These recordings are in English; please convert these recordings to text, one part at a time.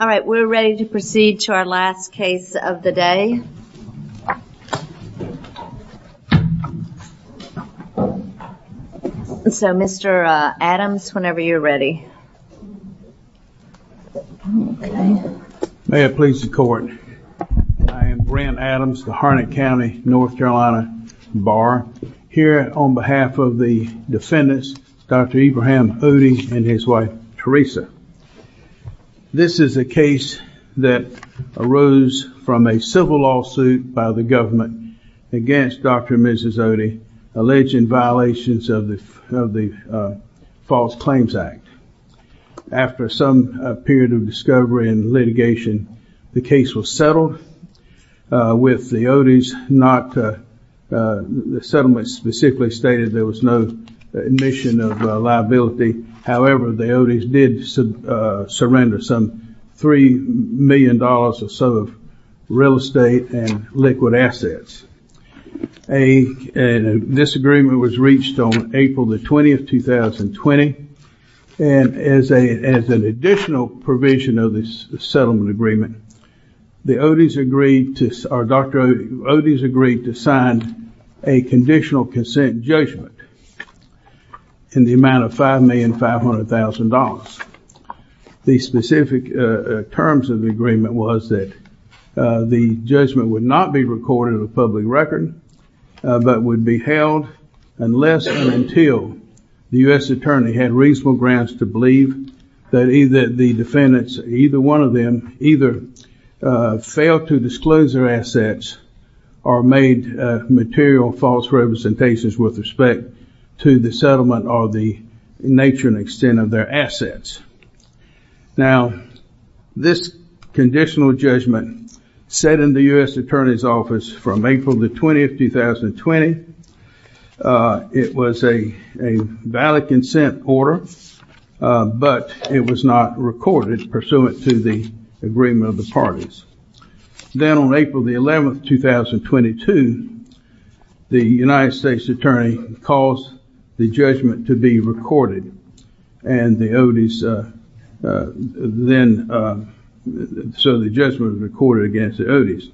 All right, we're ready to proceed to our last case of the day. So Mr. Adams, whenever you're ready. May it please the court. I am Brent Adams, the Harnett County, North Carolina, bar here on behalf of the defendants, Dr. Ibrahim Oudeh and his wife, Teresa. This is a case that arose from a civil lawsuit by the government against Dr. and Mrs. Oudeh, alleging violations of the False Claims Act. After some period of discovery and litigation, the case was settled with the Oudehs not, the settlement specifically stated there was no admission of liability, however the Oudehs did surrender some $3 million or so of real estate and liquid assets. And this agreement was reached on April the 20th, 2020. And as an additional provision of this settlement agreement, the Oudehs agreed to, or Dr. Oudehs agreed to sign a conditional consent judgment in the amount of $5,500,000. The specific terms of the agreement was that the judgment would not be recorded in a public record, but would be held unless and until the U.S. attorney had reasonable grounds to believe that either the defendants, either one of them, either failed to disclose their assets or made material false representations with respect to the settlement or the nature and extent of their assets. Now, this conditional judgment set in the U.S. attorney's office from April the 20th, 2020. It was a valid consent order, but it was not recorded pursuant to the agreement of the parties. Then on April the 11th, 2022, the United States attorney caused the judgment to be recorded. And the Oudehs then, so the judgment was recorded against the Oudehs.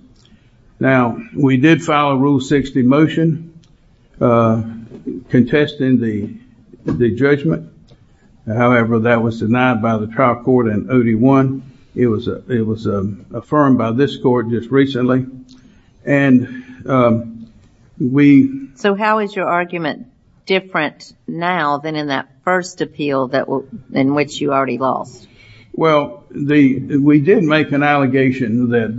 Now, we did file a Rule 60 motion contesting the judgment. However, that was denied by the trial court in Oudeh 1. It was affirmed by this court just recently. And we... So how is your argument different now than in that first appeal in which you already lost? Well, we did make an allegation that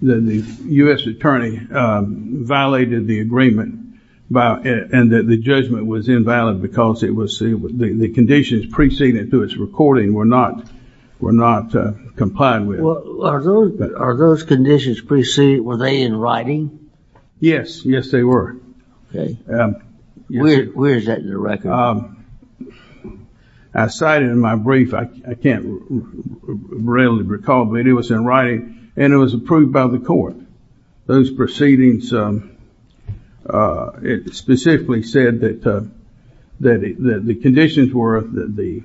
the U.S. attorney violated the agreement and that the judgment was invalid because the conditions preceding it to its recording were not complied with. Well, are those conditions preceded, were they in writing? Yes. Yes, they were. Okay. Where is that in the record? I cited in my brief, I can't readily recall, but it was in writing and it was approved by the court. Those proceedings, it specifically said that the conditions were that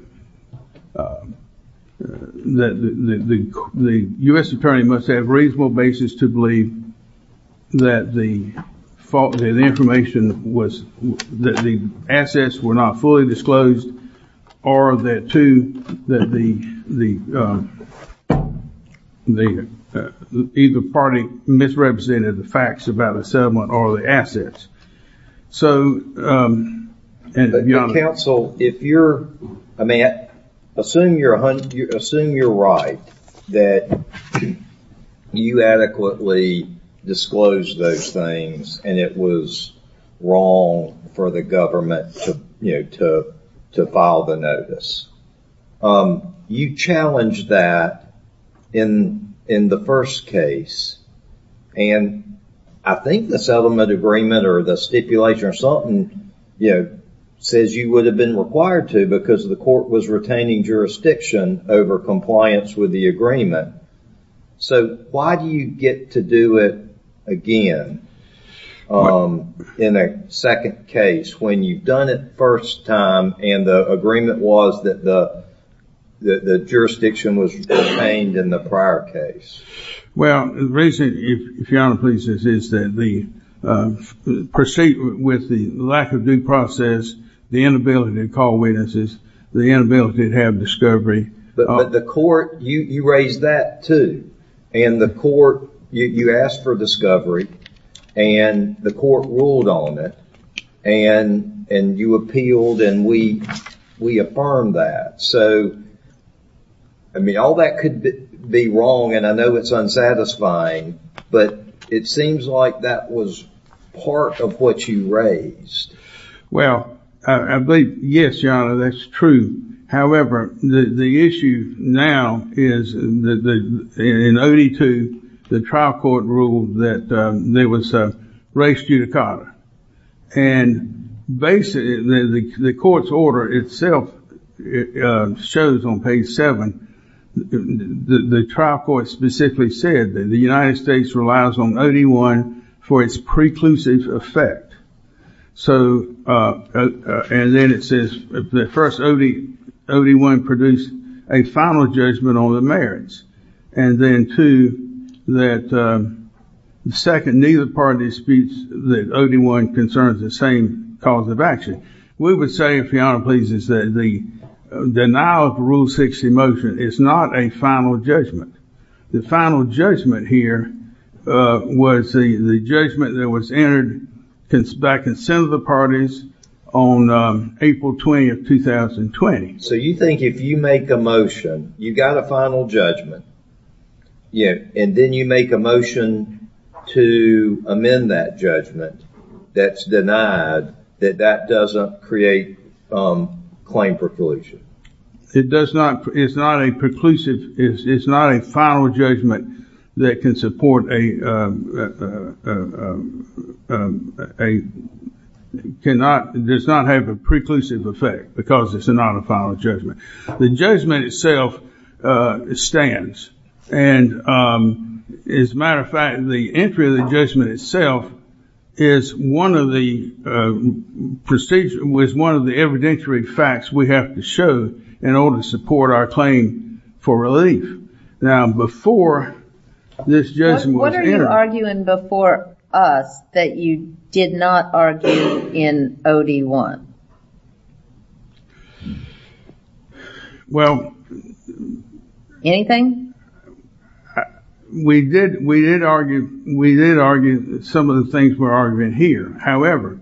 the U.S. attorney must have reasonable basis to believe that the information was, that the assets were not fully disclosed or that the either party misrepresented the facts about the settlement or the assets. So, counsel, if you're, I mean, assume you're right that you adequately disclose those things and it was wrong for the government to file the notice. Um, you challenged that in the first case and I think the settlement agreement or the stipulation or something, you know, says you would have been required to because the court was retaining jurisdiction over compliance with the agreement. So, why do you get to do it again in a second case when you've done it first time and the agreement was that the jurisdiction was retained in the prior case? Well, the reason, if Your Honor pleases, is that the proceed with the lack of due process, the inability to call witnesses, the inability to have discovery. But the court, you raised that too. And the court, you asked for discovery and the court ruled on it and you appealed and we affirmed that. So, I mean, all that could be wrong and I know it's unsatisfying, but it seems like that was part of what you raised. Well, I believe, yes, Your Honor, that's true. However, the issue now is in OD2, the trial court ruled that there was a race judicata. And basically, the court's order itself shows on page 7, the trial court specifically said that the United States relies on OD1 for its preclusive effect. So, and then it says the first OD1 produced a final judgment on the merits. And then two, that second, neither party disputes that OD1 concerns the same cause of action. We would say, if Your Honor pleases, that the denial of the Rule 60 motion is not a final judgment. The final judgment here was the judgment that was entered back in the Senate of the parties on April 20, 2020. So, you think if you make a motion, you've got a final judgment, and then you make a motion to amend that judgment that's denied, that that doesn't create claim preclusion? It does not. It's not a preclusive. It's not a final judgment that can support a, does not have a preclusive effect because it's not a final judgment. The judgment itself stands. And as a matter of fact, the entry of the judgment itself is one of the, was one of the evidentiary facts we have to show in order to support our claim for relief. Now, before this judgment was entered- What are you arguing before us that you did not argue in OD1? Well- Anything? We did, we did argue, we did argue some of the things we're arguing here. However-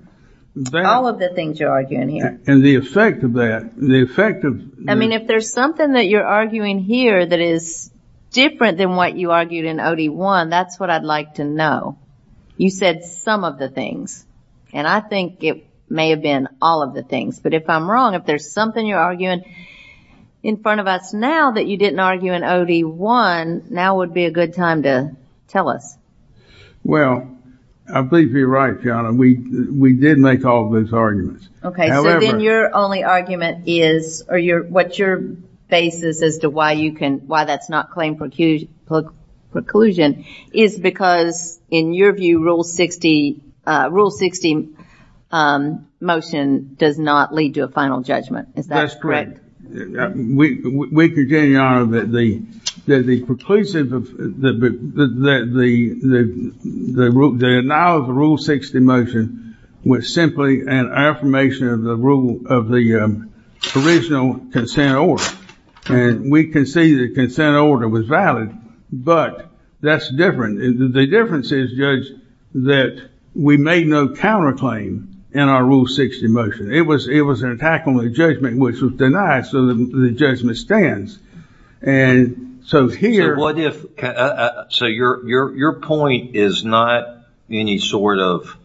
All of the things you're arguing here. And the effect of that, the effect of- If there's something that you're arguing here that is different than what you argued in OD1, that's what I'd like to know. You said some of the things, and I think it may have been all of the things. But if I'm wrong, if there's something you're arguing in front of us now that you didn't argue in OD1, now would be a good time to tell us. Well, I believe you're right, Joanna. We did make all those arguments. Okay, so then your only argument is, or what your basis as to why you can, why that's not claim preclusion is because, in your view, Rule 60, Rule 60 motion does not lead to a final judgment. Is that correct? That's correct. We congeniality are that the, that the preclusive of, the denial of the Rule 60 motion was simply an affirmation of the rule, of the original consent order. And we can see the consent order was valid, but that's different. The difference is, Judge, that we made no counterclaim in our Rule 60 motion. It was an attack on the judgment, which was denied, so the judgment stands. And so here- What if, so your point is not any sort of,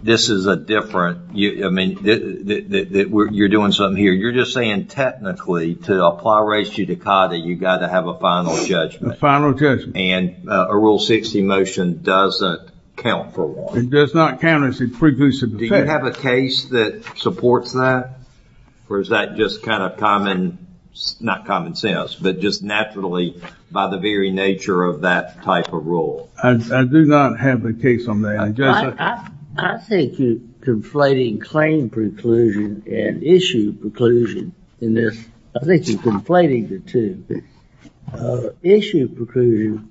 this is a different, I mean, you're doing something here. You're just saying technically, to apply res judicata, you've got to have a final judgment. A final judgment. And a Rule 60 motion doesn't count for one. It does not count as a preclusive offense. Do you have a case that supports that? Or is that just kind of common, not common sense, but just naturally by the very nature of that type of rule? I do not have a case on that. I think you're conflating claim preclusion and issue preclusion in this. I think you're conflating the two. Issue preclusion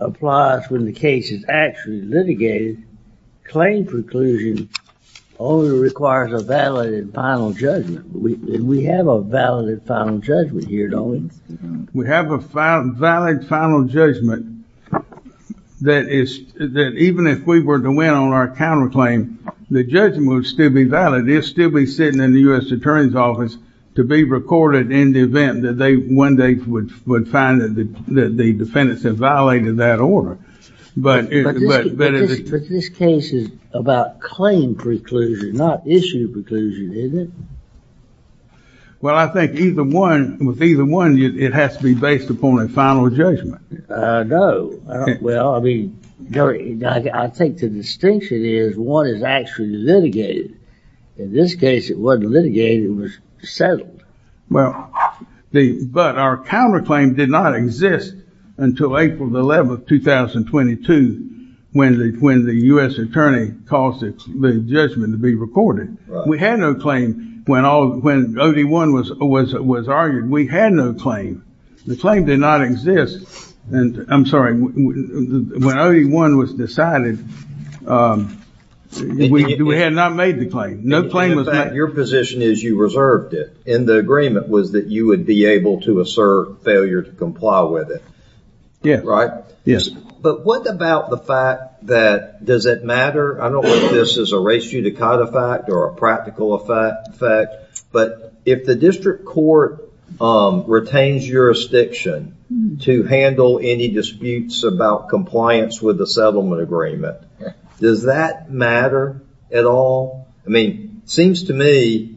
applies when the case is actually litigated. Claim preclusion only requires a valid and final judgment. We have a valid and final judgment here, don't we? We have a valid and final judgment that even if we were to win on our counterclaim, the judgment would still be valid. It would still be sitting in the U.S. Attorney's Office to be recorded in the event that they one day would find that the defendants have violated that order. But this case is about claim preclusion, not issue preclusion, isn't it? Well, I think with either one, it has to be based upon a final judgment. No. Well, I think the distinction is one is actually litigated. In this case, it wasn't litigated. It was settled. But our counterclaim did not exist until April 11, 2022, when the U.S. Attorney caused the judgment to be recorded. We had no claim when OD1 was argued. We had no claim. The claim did not exist. I'm sorry. When OD1 was decided, we had not made the claim. In fact, your position is you reserved it. And the agreement was that you would be able to assert failure to comply with it. Yeah. Right? Yes. But what about the fact that does it matter? I don't know if this is a ratio to cut effect or a practical effect. But if the district court retains jurisdiction to handle any disputes about compliance with the settlement agreement, does that matter at all? I mean, it seems to me,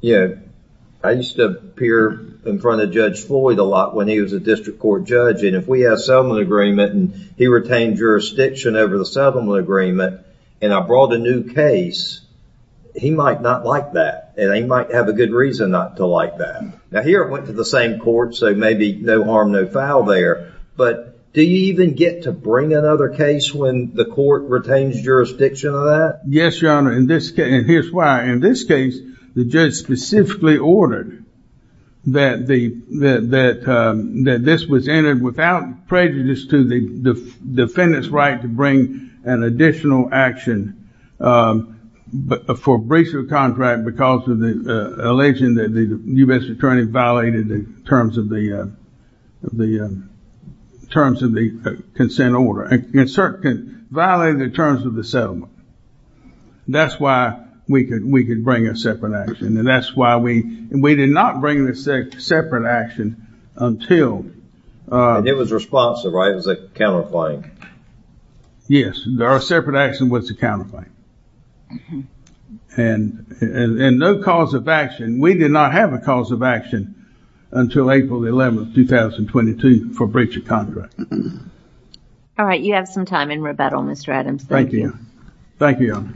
you know, I used to appear in front of Judge Floyd a lot when he was a district court judge. And if we have settlement agreement and he retained jurisdiction over the settlement agreement, and I brought a new case, he might not like that. And he might have a good reason not to like that. Now, here I went to the same court, so maybe no harm, no foul there. But do you even get to bring another case when the court retains jurisdiction of that? Yes, Your Honor. And here's why. In this case, the judge specifically ordered that this was entered without prejudice to the defendant's right to bring an additional action for breach of contract because of the allegation that the U.S. attorney violated the terms of the consent order, violated the terms of the settlement. That's why we could bring a separate action. And that's why we did not bring a separate action until... And it was responsive, right? It was a counterfeit. Yes, there are separate actions with the counterfeit. And no cause of action. We did not have a cause of action until April 11, 2022 for breach of contract. All right. You have some time in rebuttal, Mr. Adams. Thank you. Thank you, Your Honor.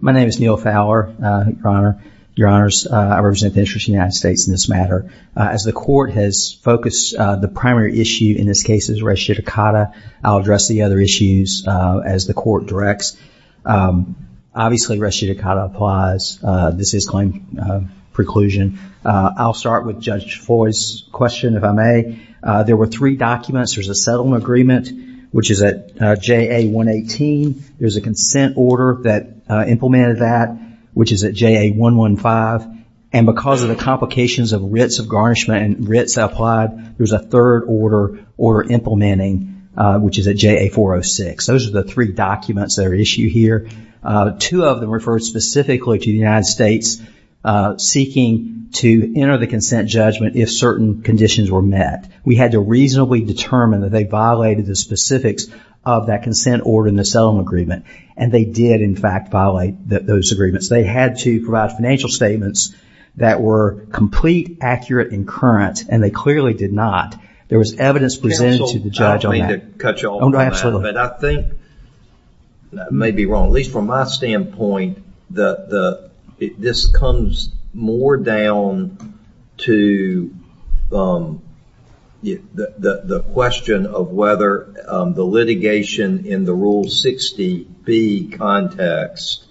My name is Neil Fowler, Your Honor. Your Honors, I represent the interests of the United States in this matter. As the court has focused the primary issue in this case is res judicata, I'll address the other issues as the court directs. Obviously, res judicata applies. This is claim preclusion. I'll start with Judge Foy's question, if I may. There were three documents. There's a settlement agreement, which is at JA-118. There's a consent order that implemented that, which is at JA-115. And because of the complications of writs of garnishment and writs applied, there's a third order implementing, which is at JA-406. Those are the three documents that are issued here. Two of them refer specifically to the United States seeking to enter the consent judgment if certain conditions were met. We had to reasonably determine that they violated the specifics of that consent order in the settlement agreement, and they did, in fact, violate those agreements. They had to provide financial statements that were complete, accurate, and current, and they clearly did not. There was evidence presented to the judge on that. I don't mean to cut you off on that, but I think, and I may be wrong, at least from my standpoint, this comes more down to the question of whether the litigation in the Rule 60B context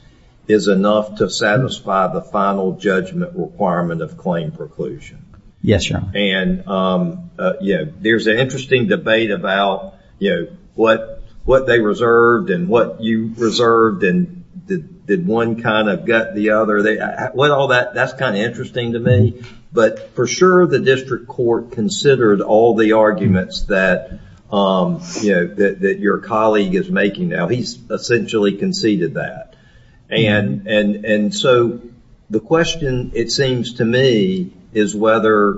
is enough to satisfy the final judgment requirement of claim preclusion. Yes, Your Honor. And there's an interesting debate about what they reserved and what you reserved, and did one kind of gut the other? With all that, that's kind of interesting to me. But for sure, the district court considered all the arguments that your colleague is making now. He's essentially conceded that. And so the question, it seems to me, is whether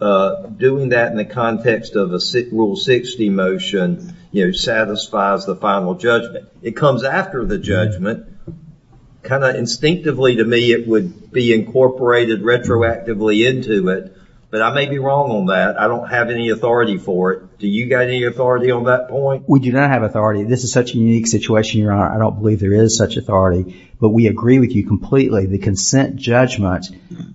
doing that in the context of a Rule 60 motion satisfies the final judgment. It comes after the judgment. Kind of instinctively to me, it would be incorporated retroactively into it. But I may be wrong on that. I don't have any authority for it. Do you got any authority on that point? We do not have authority. This is such a unique situation, Your Honor. I don't believe there is such authority. But we agree with you completely. The consent judgment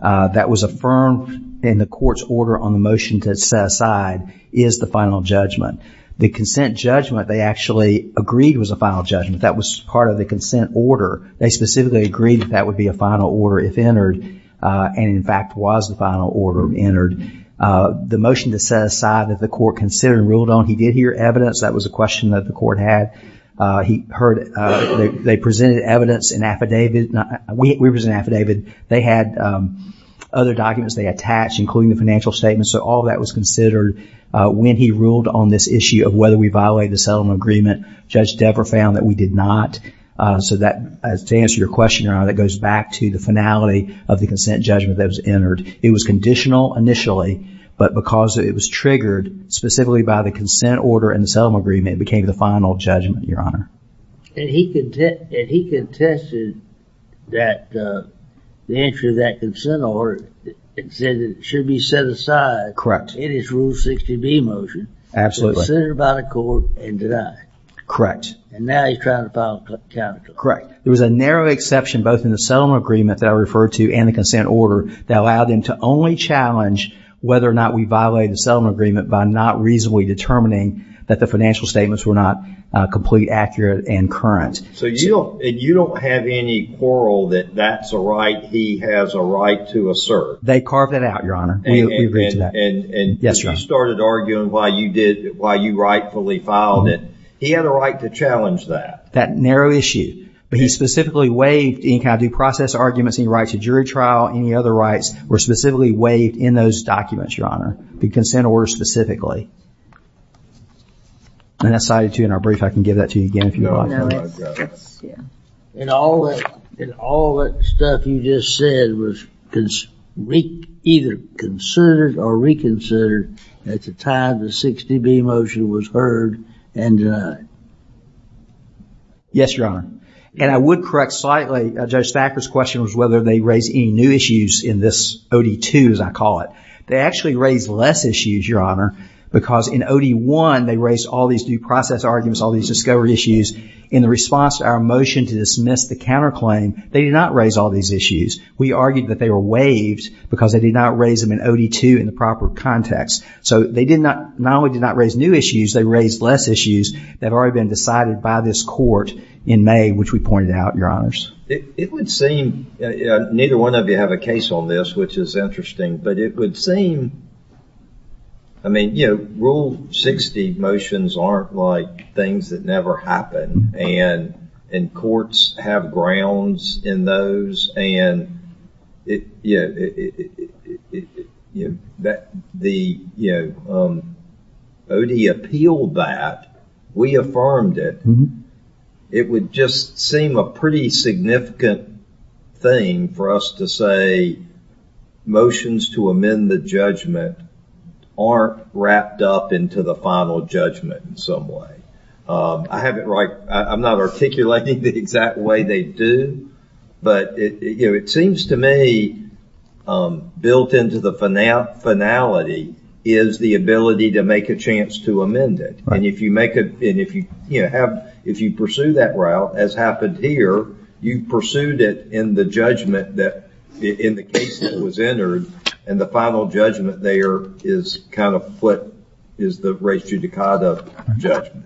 that was affirmed in the court's order on the motion to set aside is the final judgment. The consent judgment they actually agreed was a final judgment. That was part of the consent order. They specifically agreed that that would be a final order if entered. And in fact, was the final order entered. The motion to set aside that the court considered and ruled on, he did hear evidence. That was a question that the court had. They presented evidence in affidavit. We present affidavit. They had other documents they attached, including the financial statements. So all that was considered when he ruled on this issue of whether we violated the settlement agreement. Judge Dever found that we did not. So to answer your question, Your Honor, that goes back to the finality of the consent judgment that was entered. It was conditional initially. But because it was triggered specifically by the consent order and the settlement agreement, it became the final judgment, Your Honor. And he contested that the answer to that consent order said it should be set aside in his Rule 60B motion. Absolutely. Considered by the court and denied. Correct. And now he's trying to file a counterclaim. Correct. There was a narrow exception both in the settlement agreement that I referred to and the consent order that allowed him to only challenge whether or not we violated the settlement agreement by not reasonably determining that the financial statements were not complete, accurate, and current. So you don't have any quarrel that that's a right he has a right to assert. They carved it out, Your Honor. We agreed to that. Yes, Your Honor. You started arguing why you rightfully filed it. He had a right to challenge that. That narrow issue. But he specifically waived any kind of due process arguments, any rights to jury trial, any other rights were specifically waived in those documents, Your Honor. The consent order specifically. And that's cited, too, in our brief. I can give that to you again if you'd like. And all that stuff you just said was either considered or reconsidered at the time the 60B motion was heard and denied. Yes, Your Honor. And I would correct slightly. Judge Thacker's question was whether they raised any new issues in this OD2, as I call it. They actually raised less issues, Your Honor, because in OD1, they raised all these due process arguments, all these discovery issues. In the response to our motion to dismiss the counterclaim, they did not raise all these issues. We argued that they were waived because they did not raise them in OD2 in the proper context. So they did not, not only did not raise new issues, they raised less issues that have already been decided by this court in May, which we pointed out, Your Honors. It would seem, neither one of you have a case on this, which is interesting, but it would seem, I mean, you know, Rule 60 motions aren't like things that never happen, and courts have grounds in those, and, you know, OD appealed that. We affirmed it. It would just seem a pretty significant thing for us to say motions to amend the judgment aren't wrapped up into the final judgment in some way. I have it right, I'm not articulating the exact way they do, but, you know, it seems to me built into the finality is the ability to make a chance to amend it, and if you make a, and if you, you know, have, if you pursue that route, as happened here, you pursued it in the judgment that, in the case that was entered, and the final judgment there is kind of what is the res judicata judgment.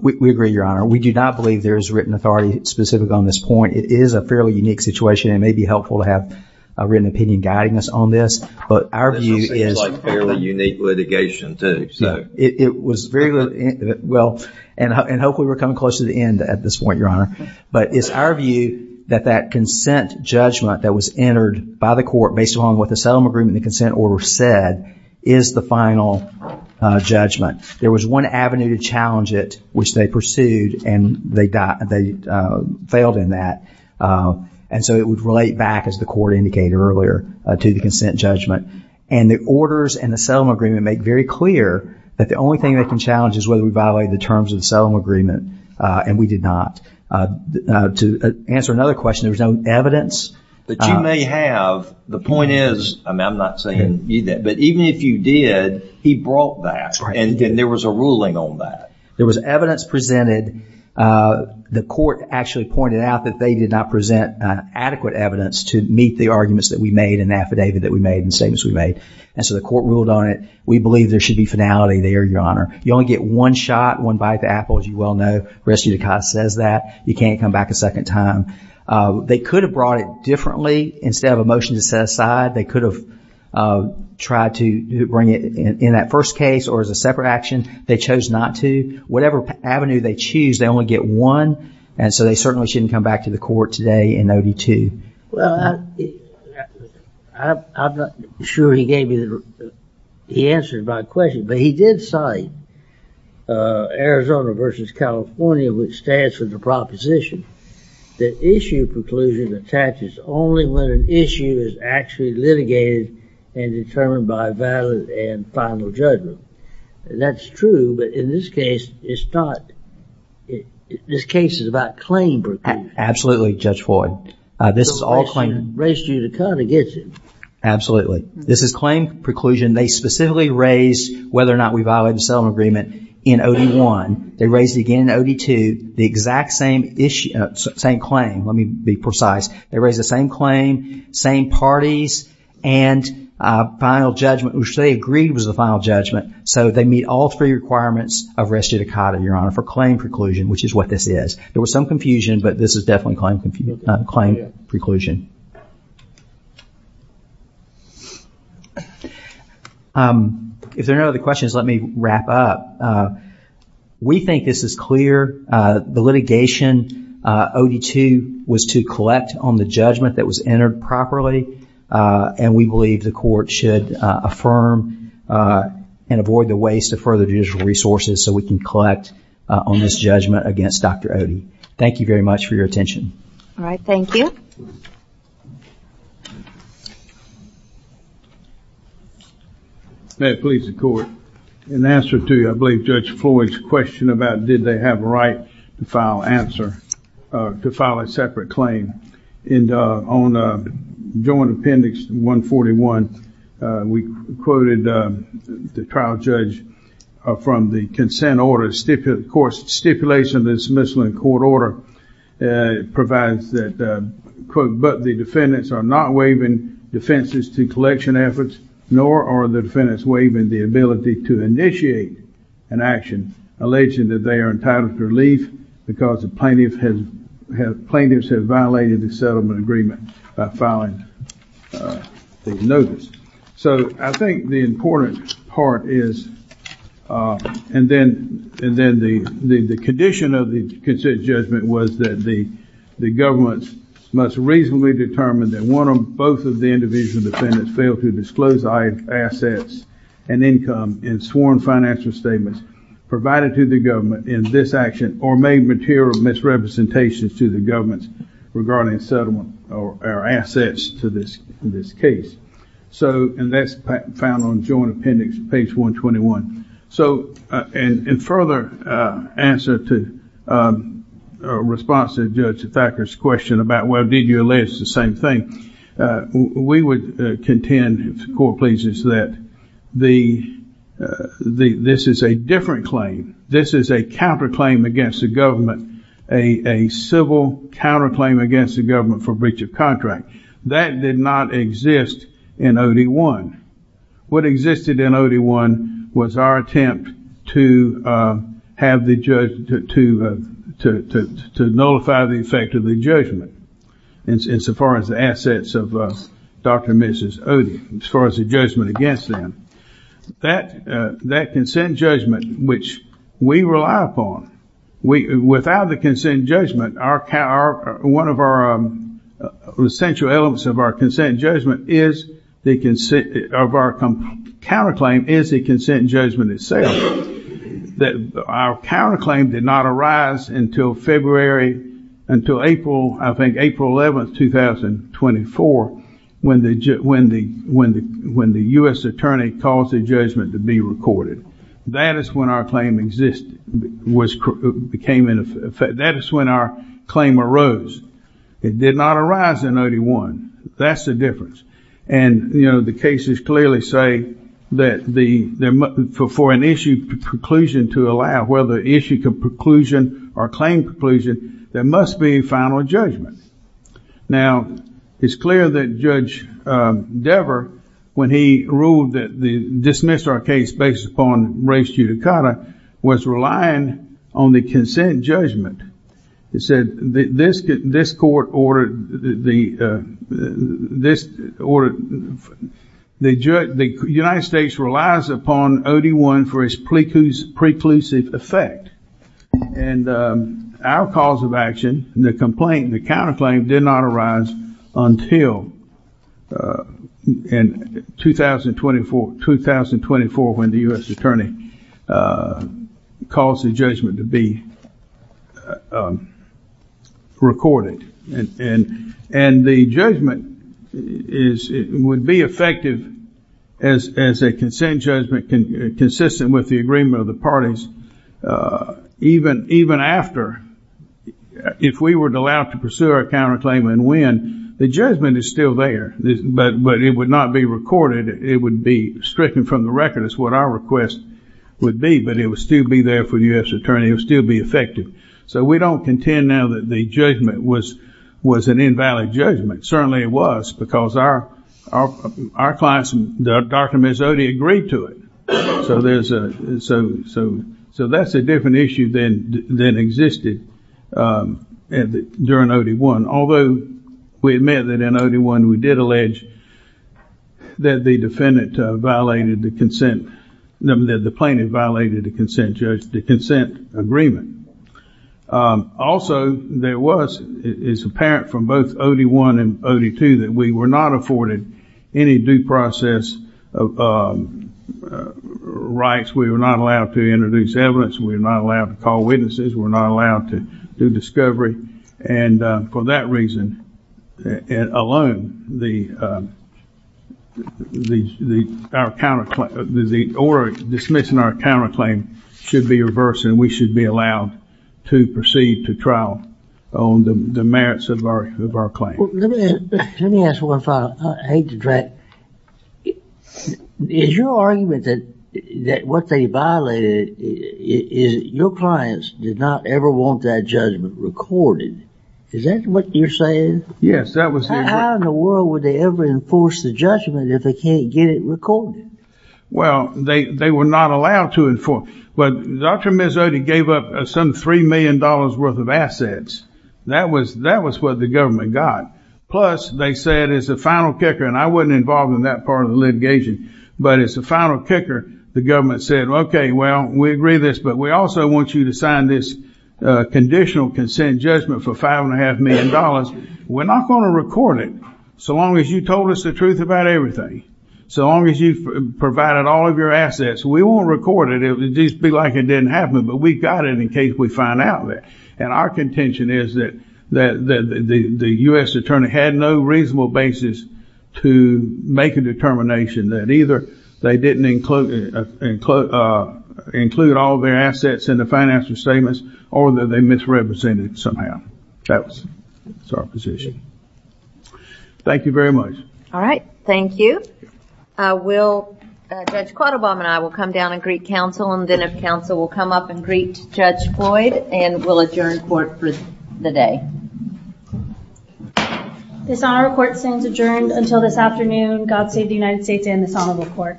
We agree, Your Honor. We do not believe there is written authority specific on this point. It is a fairly unique situation, and it may be helpful to have a written opinion guiding us on this, but our view is. This seems like fairly unique litigation too, so. It was very, well, and hopefully we're coming close to the end at this point, Your Honor, but it's our view that that consent judgment that was entered by the court based on what the settlement agreement and the consent order said is the final judgment. There was one avenue to challenge it, which they pursued, and they failed in that, and so it would relate back, as the court indicated earlier, to the consent judgment, and the orders and the settlement agreement make very clear that the only thing they can challenge is whether we violate the terms of the settlement agreement, and we did not. To answer another question, there was no evidence. That you may have. The point is, I'm not saying you did, but even if you did, he brought that, and there was a ruling on that. There was evidence presented. The court actually pointed out that they did not present adequate evidence to meet the arguments that we made and the affidavit that we made and the statements we made, and so the court ruled on it. We believe there should be finality there, Your Honor. You only get one shot, one bite of the apple, as you well know. The rest of your time says that. You can't come back a second time. They could have brought it differently. Instead of a motion to set aside, they could have tried to bring it in that first case or as a separate action. They chose not to. Whatever avenue they choose, they only get one, and so they certainly shouldn't come back to the court today in OD2. Well, I'm not sure he gave you the answer to my question, but he did cite Arizona versus California, which stands for the proposition that issue preclusion attaches only when an issue is actually litigated and determined by valid and final judgment. That's true, but in this case, it's not. This case is about claim preclusion. Absolutely, Judge Floyd. This is all claim. Raised you to come against him. Absolutely. This is claim preclusion. They specifically raised whether or not we violated the settlement agreement in OD1. They raised it again in OD2, the exact same claim. Let me be precise. They raised the same claim, same parties, and final judgment, which they agreed was the final judgment, so they meet all three requirements of res judicata, Your Honor, for claim preclusion, which is what this is. There was some confusion, but this is definitely claim preclusion. If there are no other questions, let me wrap up. We think this is clear. The litigation, OD2, was to collect on the judgment that was entered properly, and we believe the court should affirm and avoid the waste of further judicial resources so we can collect on this judgment against Dr. Odie. Thank you very much for your attention. All right. Thank you. May it please the court. In answer to, I believe, Judge Floyd's question about did they have a right to file answer, to file a separate claim. And on Joint Appendix 141, we quoted the trial judge from the consent order, of course, stipulation of the dismissal in court order provides that, quote, but the defendants are not waiving defenses to collection efforts, nor are the defendants waiving the ability to initiate an action alleging that they are entitled to relief because the plaintiffs have violated the settlement agreement by filing the notice. So I think the important part is, and then the condition of the consent judgment was that the government must reasonably determine that one or both of the individual defendants failed to disclose assets and income in sworn financial statements provided to the government in this action or made material misrepresentations to the government regarding settlement or assets to this case. So, and that's found on Joint Appendix page 121. So, in further answer to or response to Judge Thacker's question about, well, did you allege the same thing? We would contend, if the court pleases, that this is a different claim. This is a counterclaim against the government, a civil counterclaim against the government for breach of contract. That did not exist in OD1. What existed in OD1 was our attempt to nullify the effect of the judgment insofar as the assets of Dr. and Mrs. Odie, as far as the judgment against them. That consent judgment, which we rely upon, without the consent judgment, one of our essential elements of our consent judgment is, of our counterclaim, is the consent judgment itself. That our counterclaim did not arise until February, until April, I think, April 11, 2024, when the U.S. attorney caused the judgment to be recorded. That is when our claim existed, became in effect. That is when our claim arose. It did not arise in OD1. That's the difference. And, you know, the cases clearly say that for an issue preclusion to allow, whether issue preclusion or claim preclusion, there must be a final judgment. Now, it's clear that Judge Dever, when he ruled that the dismissal of our case based upon race judicata, was relying on the consent judgment. He said, this court ordered, the United States relies upon OD1 for its preclusive effect. And our cause of action, the complaint, the counterclaim did not arise until 2024, when the U.S. attorney caused the judgment to be recorded. And the judgment would be effective as a consent judgment consistent with the agreement of the parties, even after, if we were allowed to pursue our counterclaim and win, the judgment is still there, but it would not be recorded. It would be stricken from the record. That's what our request would be, but it would still be there for the U.S. attorney. It would still be effective. So we don't contend now that the judgment was an invalid judgment. Certainly it was, because our clients, Dr. Mezzotti, agreed to it. So there's a, so that's a different issue than existed during OD1. Although we admit that in OD1, we did allege that the defendant violated the consent, that the plaintiff violated the consent judgment, the consent agreement. Also, there was, it's apparent from both OD1 and OD2 that we were not afforded any due process rights. We were not allowed to introduce evidence. We're not allowed to call witnesses. We're not allowed to do discovery. And for that reason alone, the order dismissing our counterclaim should be reversed and we should be allowed to proceed to trial on the merits of our claim. Well, let me ask one final, I hate to drag, is your argument that what they violated, your clients did not ever want that judgment recorded. Is that what you're saying? Yes, that was it. How in the world would they ever enforce the judgment if they can't get it recorded? Well, they were not allowed to inform. But Dr. Mezzotti gave up some $3 million worth of assets. That was what the government got. Plus, they said as a final kicker, and I wasn't involved in that part of the litigation, but as a final kicker, the government said, well, we agree with this, but we also want you to sign this conditional consent judgment for $5.5 million. We're not going to record it so long as you told us the truth about everything. So long as you've provided all of your assets, we won't record it. It'll just be like it didn't happen. But we've got it in case we find out that. And our contention is that the U.S. attorney had no reasonable basis to make a determination that either they didn't include all of their assets in the financial statements or that they misrepresented somehow. That's our position. Thank you very much. All right. Thank you. Judge Quattlebaum and I will come down and greet counsel, and then if counsel will come up and greet Judge Floyd, and we'll adjourn court for the day. This honorable court stands adjourned until this afternoon. God save the United States and this honorable court. Thank you.